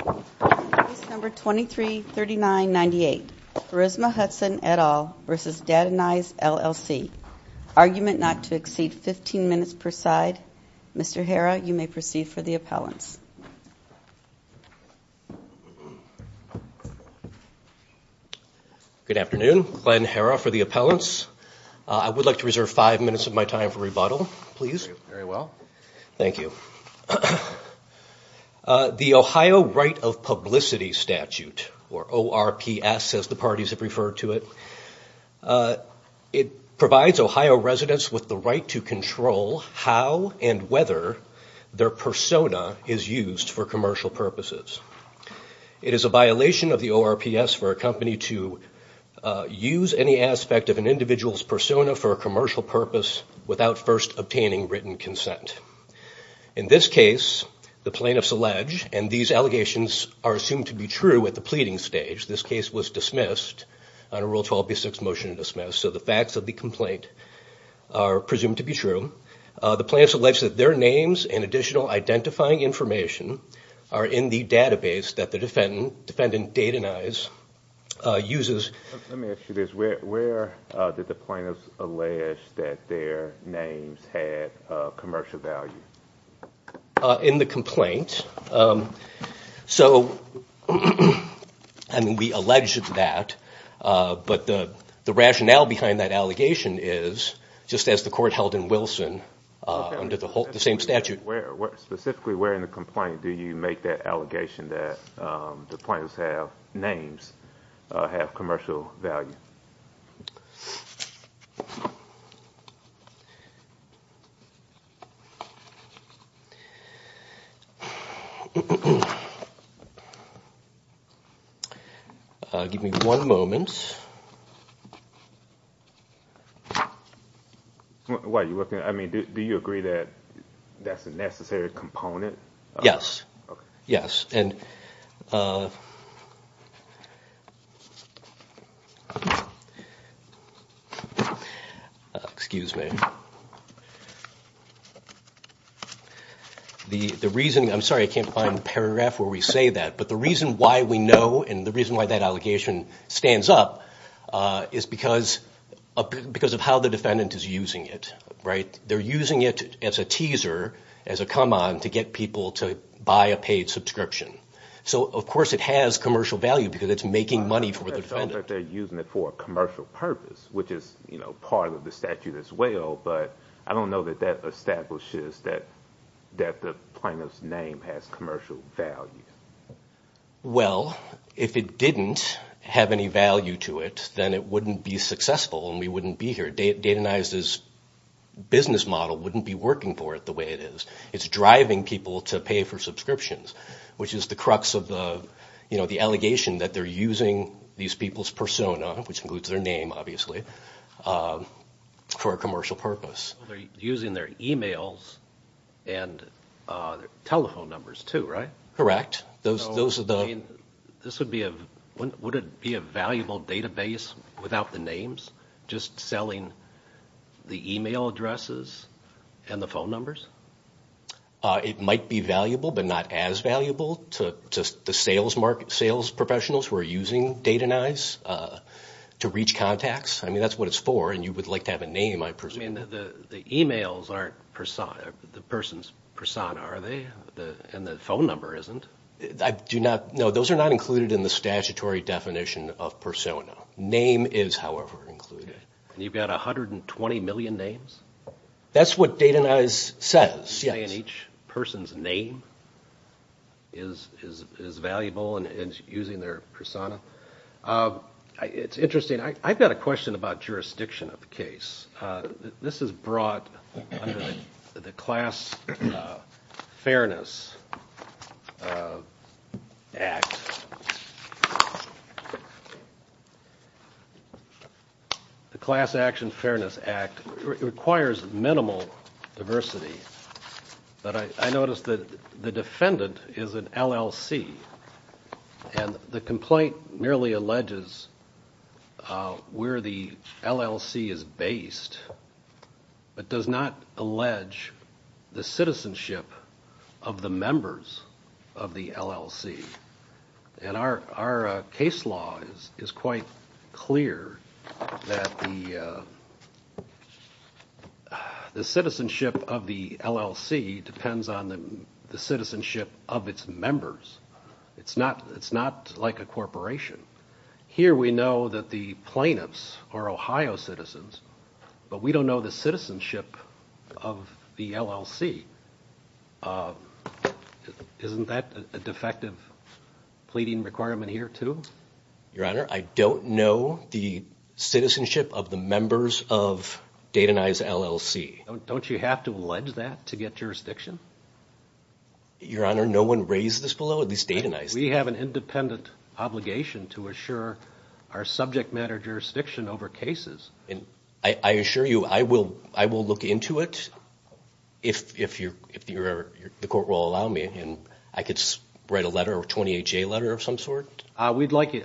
Case number 233998. Charisma Hudson, et al. v. Datanyze, LLC. Argument not to exceed 15 minutes per side. Mr. Herra, you may proceed for the appellants. Good afternoon. Glenn Herra for the appellants. I would like to reserve five minutes of my time for rebuttal, please. Very well. Thank you. The Ohio Right of Publicity Statute, or ORPS as the parties have referred to it, it provides Ohio residents with the right to control how and whether their persona is used for commercial purposes. It is a violation of the ORPS for a company to use any aspect of an individual's persona for a commercial purpose without first obtaining written consent. In this case, the plaintiffs allege, and these allegations are assumed to be true at the pleading stage. This case was dismissed on a Rule 12b6 motion to dismiss. So the facts of the complaint are presumed to be true. The plaintiffs allege that their names and additional identifying information are in the database that the defendant, Datanyze, uses. Let me ask you this. Where did the plaintiffs allege that their names had commercial value? In the complaint. We alleged that, but the rationale behind that allegation is, just as the court held in Wilson under the same statute. Specifically, where in the complaint do you make that allegation that the plaintiffs' names have commercial value? Give me one moment. Do you agree that that's a necessary component? Yes. Excuse me. The reason, I'm sorry I can't find the paragraph where we say that, but the reason why we know and the reason why that allegation stands up is because of how the defendant is using it. They're using it as a teaser, as a come-on to get people to buy a paid subscription. So of course it has commercial value because it's making money for the defendant. I don't think they're using it for a commercial purpose, which is part of the statute as well, but I don't know that that establishes that the plaintiff's name has commercial value. Well, if it didn't have any value to it, then it wouldn't be successful and we wouldn't be here. Data Nice's business model wouldn't be working for it the way it is. It's driving people to pay for subscriptions, which is the crux of the allegation that they're using these people's persona, which includes their name obviously, for a commercial purpose. They're using their e-mails and telephone numbers too, right? Correct. Would it be a valuable database without the names, just selling the e-mail addresses and the phone numbers? It might be valuable, but not as valuable to the sales professionals who are using Data Nice to reach contacts. I mean, that's what it's for, and you would like to have a name, I presume. I mean, the e-mails aren't the person's persona, are they? And the phone number isn't. No, those are not included in the statutory definition of persona. Name is, however, included. And you've got 120 million names? That's what Data Nice says, yes. You're saying each person's name is valuable and is using their persona? It's interesting. I've got a question about jurisdiction of the case. This is brought under the Class Action Fairness Act. The Class Action Fairness Act requires minimal diversity. But I noticed that the defendant is an LLC, and the complaint merely alleges where the LLC is based, but does not allege the citizenship of the members of the LLC. And our case law is quite clear that the citizenship of the LLC depends on the citizenship of its members. It's not like a corporation. Here we know that the plaintiffs are Ohio citizens, but we don't know the citizenship of the LLC. Isn't that a defective pleading requirement here, too? Your Honor, I don't know the citizenship of the members of Data Nice LLC. Don't you have to allege that to get jurisdiction? Your Honor, no one raised this below, at least Data Nice. We have an independent obligation to assure our subject matter jurisdiction over cases. I assure you I will look into it, if the Court will allow me. I could write a letter, a 28-J letter of some sort? I'd like you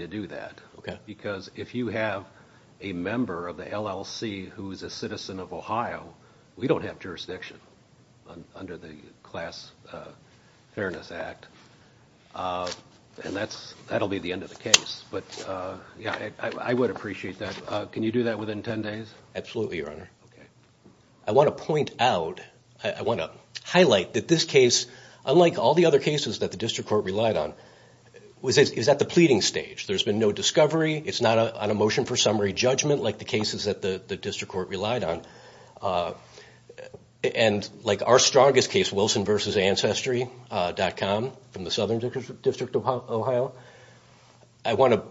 to do that. Because if you have a member of the LLC who is a citizen of Ohio, we don't have jurisdiction under the Class Fairness Act. And that will be the end of the case. I would appreciate that. Can you do that within 10 days? Absolutely, Your Honor. I want to point out, I want to highlight that this case, unlike all the other cases that the District Court relied on, was at the pleading stage. There's been no discovery. It's not on a motion for summary judgment like the cases that the District Court relied on. And like our strongest case, Wilson v. Ancestry.com, from the Southern District of Ohio, I want to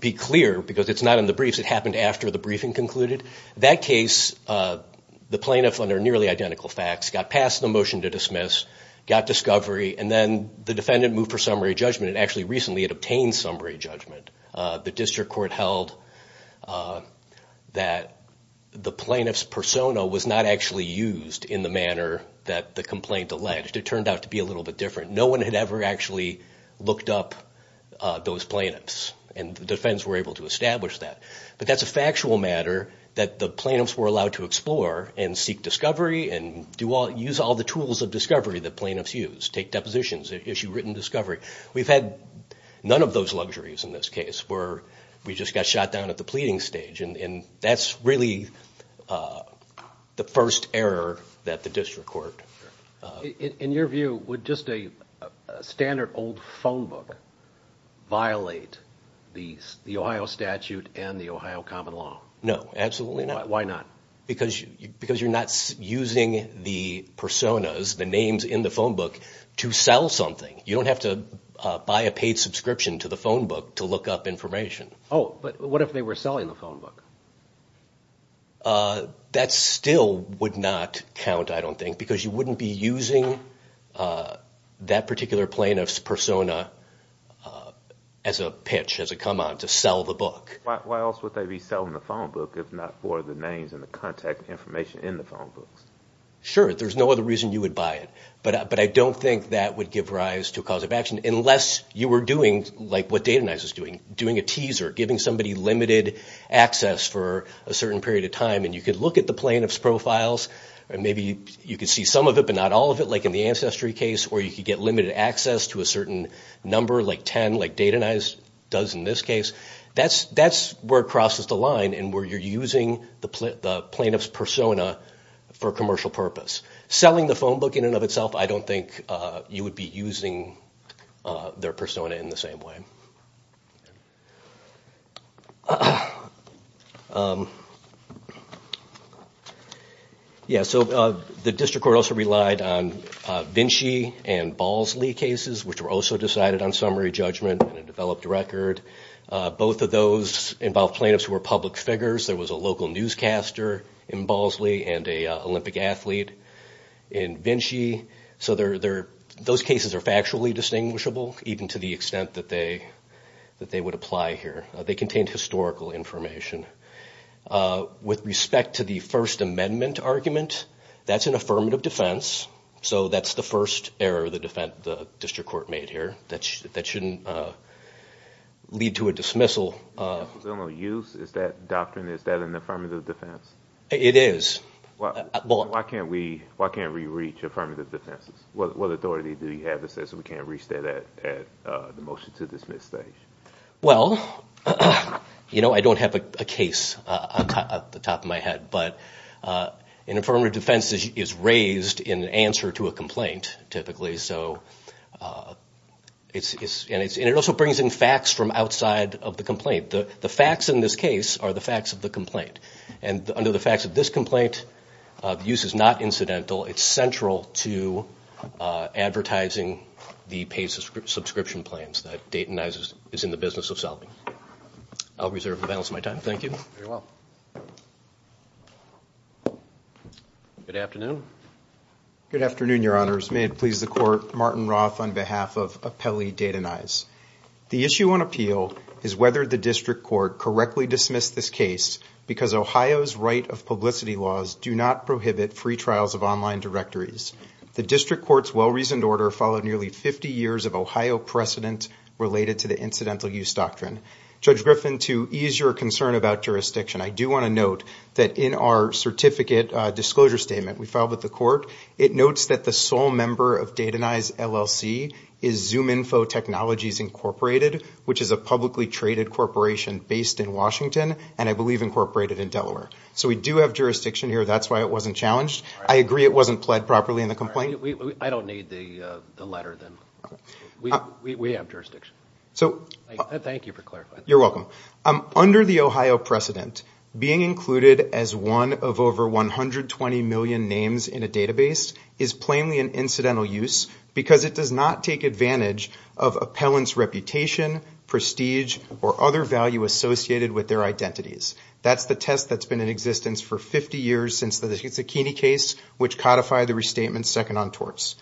be clear, because it's not in the briefs. It happened after the briefing concluded. That case, the plaintiff, under nearly identical facts, got past the motion to dismiss, got discovery, and then the defendant moved for summary judgment. And actually, recently, it obtained summary judgment. The District Court held that the plaintiff's persona was not actually used in the manner that the complaint alleged. It turned out to be a little bit different. No one had ever actually looked up those plaintiffs, and the defense were able to establish that. But that's a factual matter that the plaintiffs were allowed to explore and seek discovery and use all the tools of discovery that plaintiffs use, take depositions, issue written discovery. We've had none of those luxuries in this case where we just got shot down at the pleading stage, and that's really the first error that the District Court... In your view, would just a standard old phone book violate the Ohio statute and the Ohio common law? No, absolutely not. Why not? Because you're not using the personas, the names in the phone book, to sell something. You don't have to buy a paid subscription to the phone book to look up information. Oh, but what if they were selling the phone book? That still would not count, I don't think, because you wouldn't be using that particular plaintiff's persona as a pitch, as a come on, to sell the book. Why else would they be selling the phone book if not for the names and the contact information in the phone books? Sure, there's no other reason you would buy it. But I don't think that would give rise to a cause of action, unless you were doing what Data Nice is doing, doing a teaser, giving somebody limited access for a certain period of time, and you could look at the plaintiff's profiles, and maybe you could see some of it but not all of it, like in the Ancestry case, or you could get limited access to a certain number, like 10, like Data Nice does in this case. That's where it crosses the line and where you're using the plaintiff's persona for commercial purpose. Selling the phone book in and of itself, I don't think you would be using their persona in the same way. The district court also relied on Vinci and Balsley cases, which were also decided on summary judgment and a developed record. Both of those involved plaintiffs who were public figures. There was a local newscaster in Balsley and an Olympic athlete in Vinci. So those cases are factually distinguishable, even to the extent that they would apply here. They contained historical information. With respect to the First Amendment argument, that's an affirmative defense, so that's the first error the district court made here that shouldn't lead to a dismissal. Is that doctrine, is that an affirmative defense? It is. Why can't we reach affirmative defenses? What authority do you have that says we can't reach that at the motion to dismiss stage? Well, you know, I don't have a case at the top of my head, but an affirmative defense is raised in answer to a complaint, typically. And it also brings in facts from outside of the complaint. The facts in this case are the facts of the complaint. And under the facts of this complaint, the use is not incidental. It's central to advertising the paid subscription plans that Dayton Knives is in the business of solving. I'll reserve the balance of my time. Thank you. Very well. Good afternoon. Good afternoon, Your Honors. May it please the Court, Martin Roth on behalf of Appellee Dayton Knives. The issue on appeal is whether the district court correctly dismissed this case because Ohio's right of publicity laws do not prohibit free trials of online directories. The district court's well-reasoned order followed nearly 50 years of Ohio precedent related to the incidental use doctrine. Judge Griffin, to ease your concern about jurisdiction, I do want to note that in our certificate disclosure statement we filed with the court, it notes that the sole member of Dayton Knives LLC is ZoomInfo Technologies Incorporated, which is a publicly traded corporation based in Washington and I believe incorporated in Delaware. So we do have jurisdiction here. That's why it wasn't challenged. I agree it wasn't pled properly in the complaint. I don't need the letter then. We have jurisdiction. Thank you for clarifying that. You're welcome. Under the Ohio precedent, being included as one of over 120 million names in a database is plainly an incidental use because it does not take advantage of appellant's reputation, prestige, or other value associated with their identities. That's the test that's been in existence for 50 years since the Zucchini case, which codified the restatement second on torts.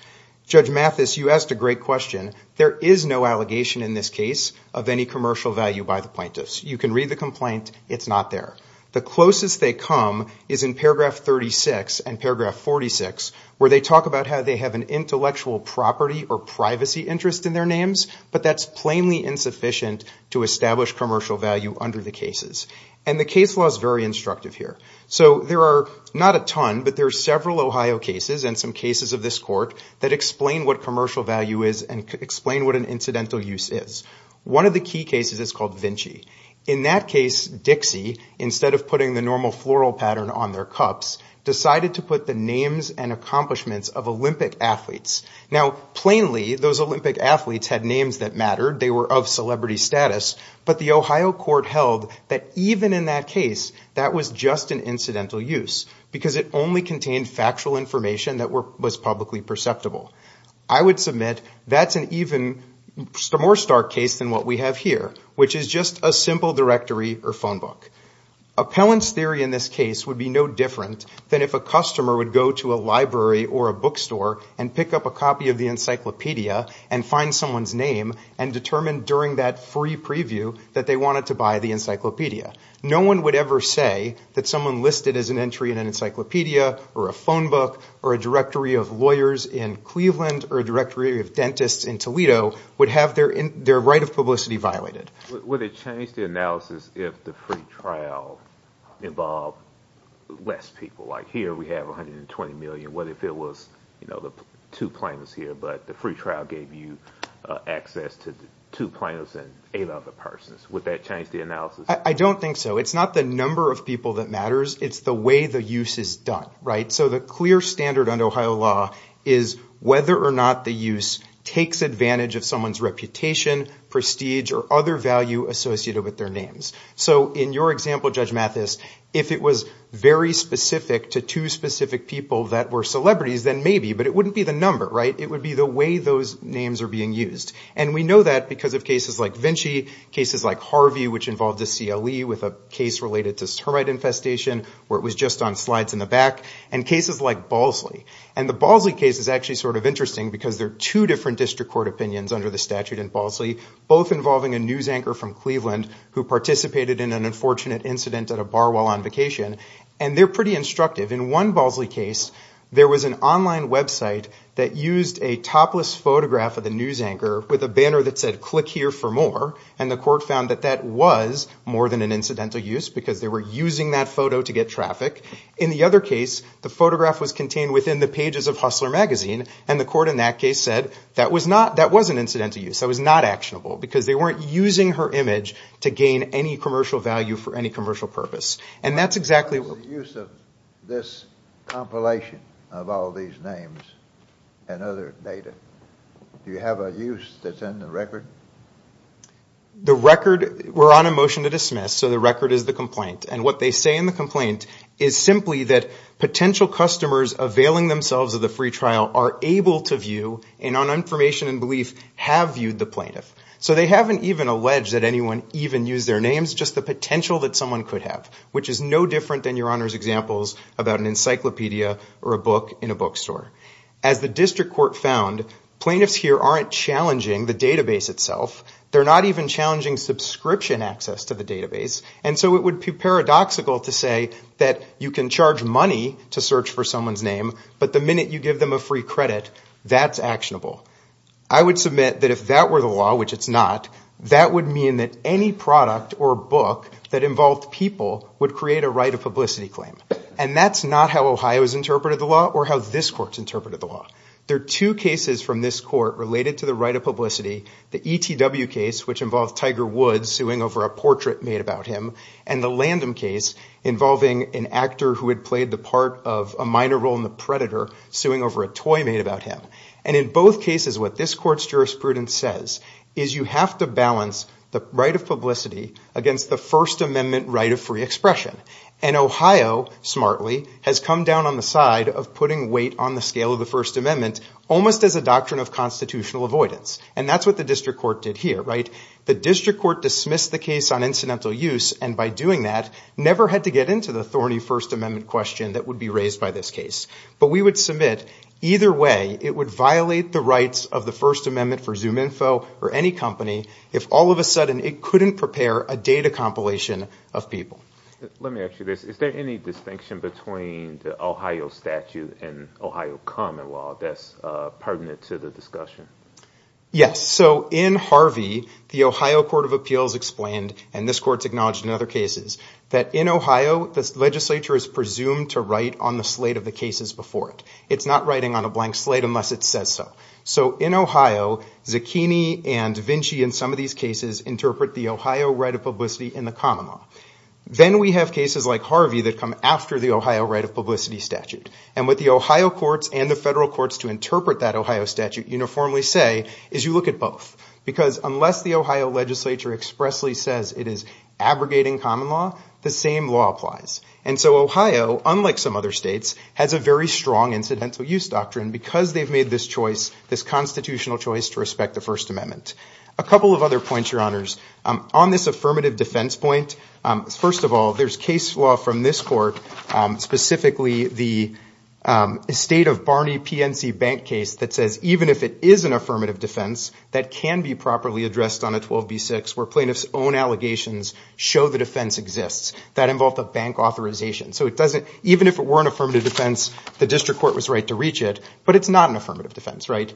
Judge Mathis, you asked a great question. There is no allegation in this case of any commercial value by the plaintiffs. You can read the complaint. It's not there. The closest they come is in paragraph 36 and paragraph 46, where they talk about how they have an intellectual property or privacy interest in their names, but that's plainly insufficient to establish commercial value under the cases. And the case law is very instructive here. So there are not a ton, but there are several Ohio cases and some cases of this court that explain what commercial value is and explain what an incidental use is. One of the key cases is called Vinci. In that case, Dixie, instead of putting the normal floral pattern on their cups, decided to put the names and accomplishments of Olympic athletes. Now, plainly, those Olympic athletes had names that mattered. They were of celebrity status. But the Ohio court held that even in that case, that was just an incidental use because it only contained factual information that was publicly perceptible. I would submit that's an even more stark case than what we have here, which is just a simple directory or phone book. Appellant's theory in this case would be no different than if a customer would go to a library or a bookstore and pick up a copy of the encyclopedia and find someone's name and determine during that free preview that they wanted to buy the encyclopedia. No one would ever say that someone listed as an entry in an encyclopedia or a phone book or a directory of lawyers in Cleveland or a directory of dentists in Toledo would have their right of publicity violated. Would it change the analysis if the free trial involved less people? Like here we have 120 million. What if it was two plaintiffs here, but the free trial gave you access to two plaintiffs and eight other persons? Would that change the analysis? I don't think so. It's not the number of people that matters. It's the way the use is done. So the clear standard under Ohio law is whether or not the use takes advantage of someone's reputation, prestige, or other value associated with their names. So in your example, Judge Mathis, if it was very specific to two specific people that were celebrities, then maybe, but it wouldn't be the number. It would be the way those names are being used. And we know that because of cases like Vinci, cases like Harvey, which involved a CLE with a case related to termite infestation where it was just on slides in the back, and cases like Balsley. And the Balsley case is actually sort of interesting because there are two different district court opinions under the statute in Balsley, both involving a news anchor from Cleveland who participated in an unfortunate incident at a bar while on vacation, and they're pretty instructive. In one Balsley case, there was an online website that used a topless photograph of the news anchor with a banner that said, click here for more. And the court found that that was more than an incidental use because they were using that photo to get traffic. In the other case, the photograph was contained within the pages of Hustler magazine, and the court in that case said that was an incidental use. That was not actionable because they weren't using her image to gain any commercial value for any commercial purpose. The use of this compilation of all these names and other data, do you have a use that's in the record? The record, we're on a motion to dismiss, so the record is the complaint. And what they say in the complaint is simply that potential customers availing themselves of the free trial are able to view, and on information and belief, have viewed the plaintiff. So they haven't even alleged that anyone even used their names, just the potential that someone could have, which is no different than Your Honor's examples about an encyclopedia or a book in a bookstore. As the district court found, plaintiffs here aren't challenging the database itself. They're not even challenging subscription access to the database. And so it would be paradoxical to say that you can charge money to search for someone's name, but the minute you give them a free credit, that's actionable. I would submit that if that were the law, which it's not, that would mean that any product or book that involved people would create a right of publicity claim. And that's not how Ohio's interpreted the law or how this court's interpreted the law. There are two cases from this court related to the right of publicity, the ETW case, which involved Tiger Woods suing over a portrait made about him, and the LANDM case involving an actor who had played the part of a minor role in The Predator suing over a toy made about him. And in both cases, what this court's jurisprudence says is you have to balance the right of publicity against the First Amendment right of free expression. And Ohio, smartly, has come down on the side of putting weight on the scale of the First Amendment almost as a doctrine of constitutional avoidance. And that's what the district court did here, right? The district court dismissed the case on incidental use, and by doing that, never had to get into the thorny First Amendment question that would be raised by this case. But we would submit either way it would violate the rights of the First Amendment for ZoomInfo or any company if all of a sudden it couldn't prepare a data compilation of people. Let me ask you this. Is there any distinction between the Ohio statute and Ohio common law that's pertinent to the discussion? Yes. So in Harvey, the Ohio Court of Appeals explained, and this court's acknowledged in other cases, that in Ohio, the legislature is presumed to write on the slate of the cases before it. It's not writing on a blank slate unless it says so. So in Ohio, Zucchini and Vinci in some of these cases interpret the Ohio right of publicity in the common law. Then we have cases like Harvey that come after the Ohio right of publicity statute. And what the Ohio courts and the federal courts to interpret that Ohio statute uniformly say is you look at both. Because unless the Ohio legislature expressly says it is abrogating common law, the same law applies. And so Ohio, unlike some other states, has a very strong incidental use doctrine because they've made this choice, this constitutional choice, to respect the First Amendment. A couple of other points, Your Honors. On this affirmative defense point, first of all, there's case law from this court, specifically the estate of Barney PNC bank case, that says even if it is an affirmative defense, that can be properly addressed on a 12B6 where plaintiffs' own allegations show the defense exists. That involved a bank authorization. So even if it were an affirmative defense, the district court was right to reach it. But it's not an affirmative defense, right?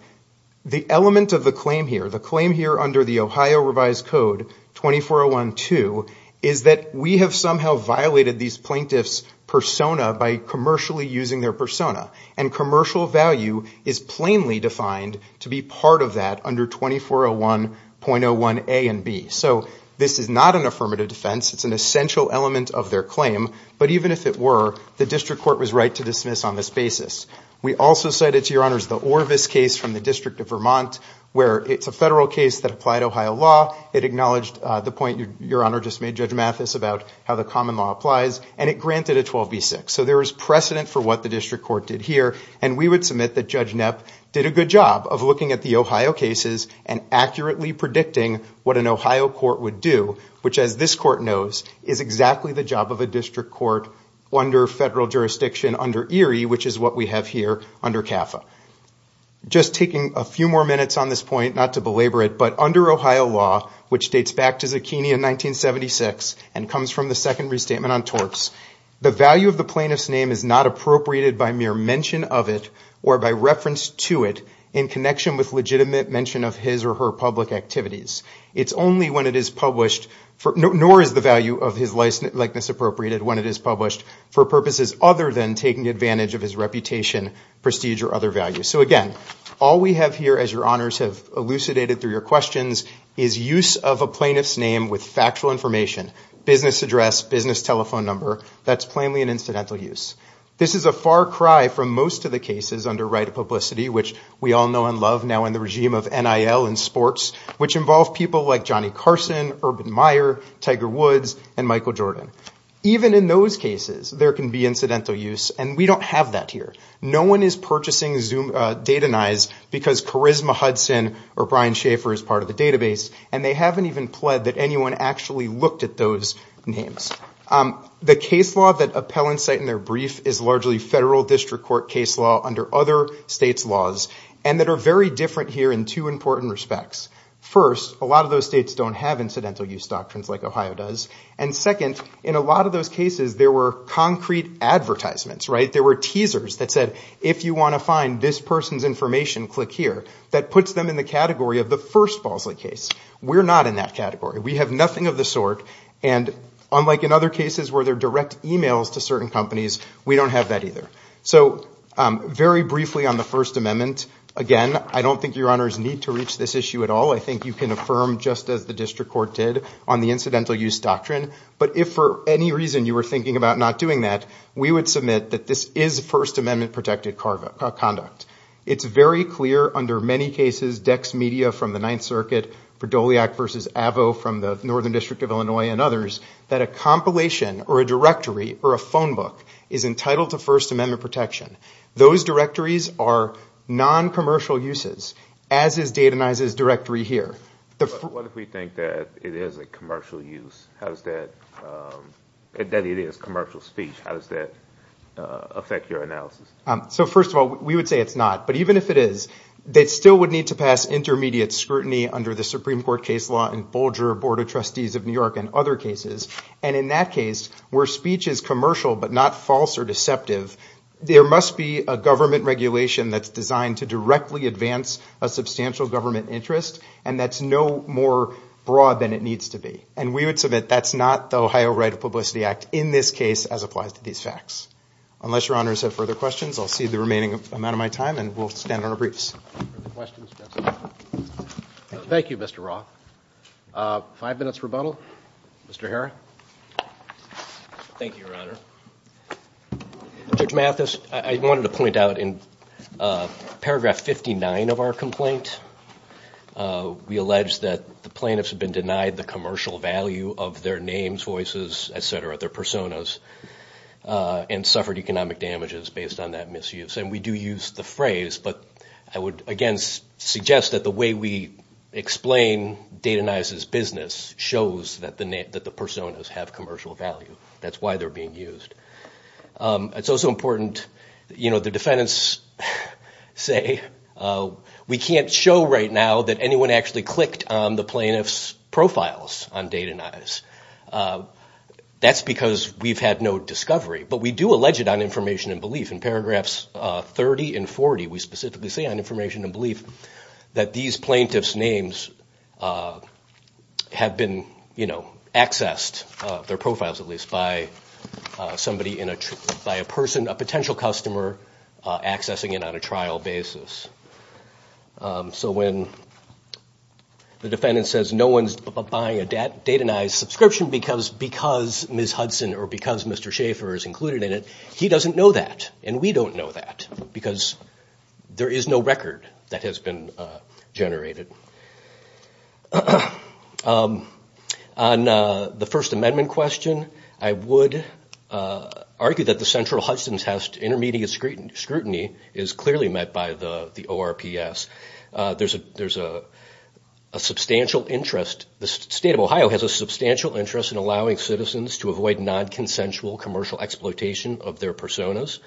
The element of the claim here, the claim here under the Ohio revised code 2401-2, is that we have somehow violated these plaintiffs' persona by commercially using their persona. And commercial value is plainly defined to be part of that under 2401.01A and B. So this is not an affirmative defense. It's an essential element of their claim. But even if it were, the district court was right to dismiss on this basis. We also cited, to Your Honors, the Orvis case from the District of Vermont, where it's a federal case that applied Ohio law. It acknowledged the point Your Honor just made, Judge Mathis, about how the common law applies. And it granted a 12B6. So there was precedent for what the district court did here. And we would submit that Judge Knapp did a good job of looking at the Ohio cases and accurately predicting what an Ohio court would do, which, as this court knows, is exactly the job of a district court under federal jurisdiction under ERI, which is what we have here under CAFA. Just taking a few more minutes on this point, not to belabor it, but under Ohio law, which dates back to Zucchini in 1976 and comes from the second restatement on torts, the value of the plaintiff's name is not appropriated by mere mention of it or by reference to it in connection with legitimate mention of his or her public activities. It's only when it is published, nor is the value of his likeness appropriated when it is published for purposes other than taking advantage of his reputation, prestige, or other values. So, again, all we have here, as Your Honors have elucidated through your questions, is use of a plaintiff's name with factual information, business address, business telephone number. That's plainly an incidental use. This is a far cry from most of the cases under right of publicity, which we all know and love now in the regime of NIL and sports, which involve people like Johnny Carson, Urban Meyer, Tiger Woods, and Michael Jordan. Even in those cases, there can be incidental use, and we don't have that here. No one is purchasing data nines because Charisma Hudson or Brian Schaefer is part of the database, and they haven't even pled that anyone actually looked at those names. The case law that appellants cite in their brief is largely federal district court case law under other states' laws and that are very different here in two important respects. First, a lot of those states don't have incidental use doctrines like Ohio does, and second, in a lot of those cases, there were concrete advertisements, right? There were teasers that said, if you want to find this person's information, click here. That puts them in the category of the first Balsley case. We're not in that category. We have nothing of the sort, and unlike in other cases where there are direct emails to certain companies, we don't have that either. So very briefly on the First Amendment, again, I don't think Your Honors need to reach this issue at all. I think you can affirm just as the district court did on the incidental use doctrine, but if for any reason you were thinking about not doing that, we would submit that this is First Amendment-protected conduct. It's very clear under many cases, Dex Media from the Ninth Circuit, Berdoliak v. Avvo from the Northern District of Illinois and others, that a compilation or a directory or a phone book is entitled to First Amendment protection. Those directories are non-commercial uses, as is Dayton Issa's directory here. What if we think that it is a commercial use? How does that, that it is commercial speech, how does that affect your analysis? So first of all, we would say it's not, but even if it is, they still would need to pass intermediate scrutiny under the Supreme Court case law in Bolger, Board of Trustees of New York, and other cases. And in that case, where speech is commercial but not false or deceptive, there must be a government regulation that's designed to directly advance a substantial government interest, and that's no more broad than it needs to be. And we would submit that's not the Ohio Right of Publicity Act, in this case, as applies to these facts. Unless Your Honors have further questions, I'll cede the remaining amount of my time, and we'll stand on our briefs. Are there questions? Thank you, Mr. Roth. Five minutes rebuttal. Mr. Herr? Thank you, Your Honor. Judge Mathis, I wanted to point out in paragraph 59 of our complaint, we allege that the plaintiffs have been denied the commercial value of their names, voices, et cetera, their personas, and suffered economic damages based on that misuse. And we do use the phrase, but I would, again, suggest that the way we explain Data Nice's business shows that the personas have commercial value. That's why they're being used. It's also important, you know, the defendants say, we can't show right now that anyone actually clicked on the plaintiff's profiles on Data Nice. That's because we've had no discovery. But we do allege it on information and belief. In paragraphs 30 and 40, we specifically say on information and belief that these plaintiffs' names have been, you know, accessed, their profiles at least, by somebody, by a person, a potential customer accessing it on a trial basis. So when the defendant says no one's buying a Data Nice subscription because Ms. Hudson or because Mr. Schaefer is included in it, he doesn't know that, and we don't know that because there is no record that has been generated. On the First Amendment question, I would argue that the central Hudson's House intermediate scrutiny is clearly met by the ORPS. There's a substantial interest, the State of Ohio has a substantial interest in allowing citizens to avoid non-consensual commercial exploitation of their personas.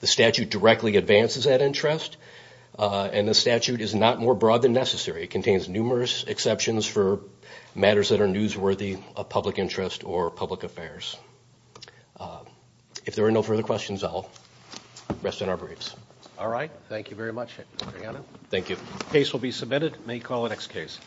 The statute directly advances that interest, and the statute is not more broad than necessary. It contains numerous exceptions for matters that are newsworthy of public interest or public affairs. If there are no further questions, I'll rest on our briefs. All right. Thank you very much, Mr. Hanna. Thank you. The case will be submitted. May call the next case.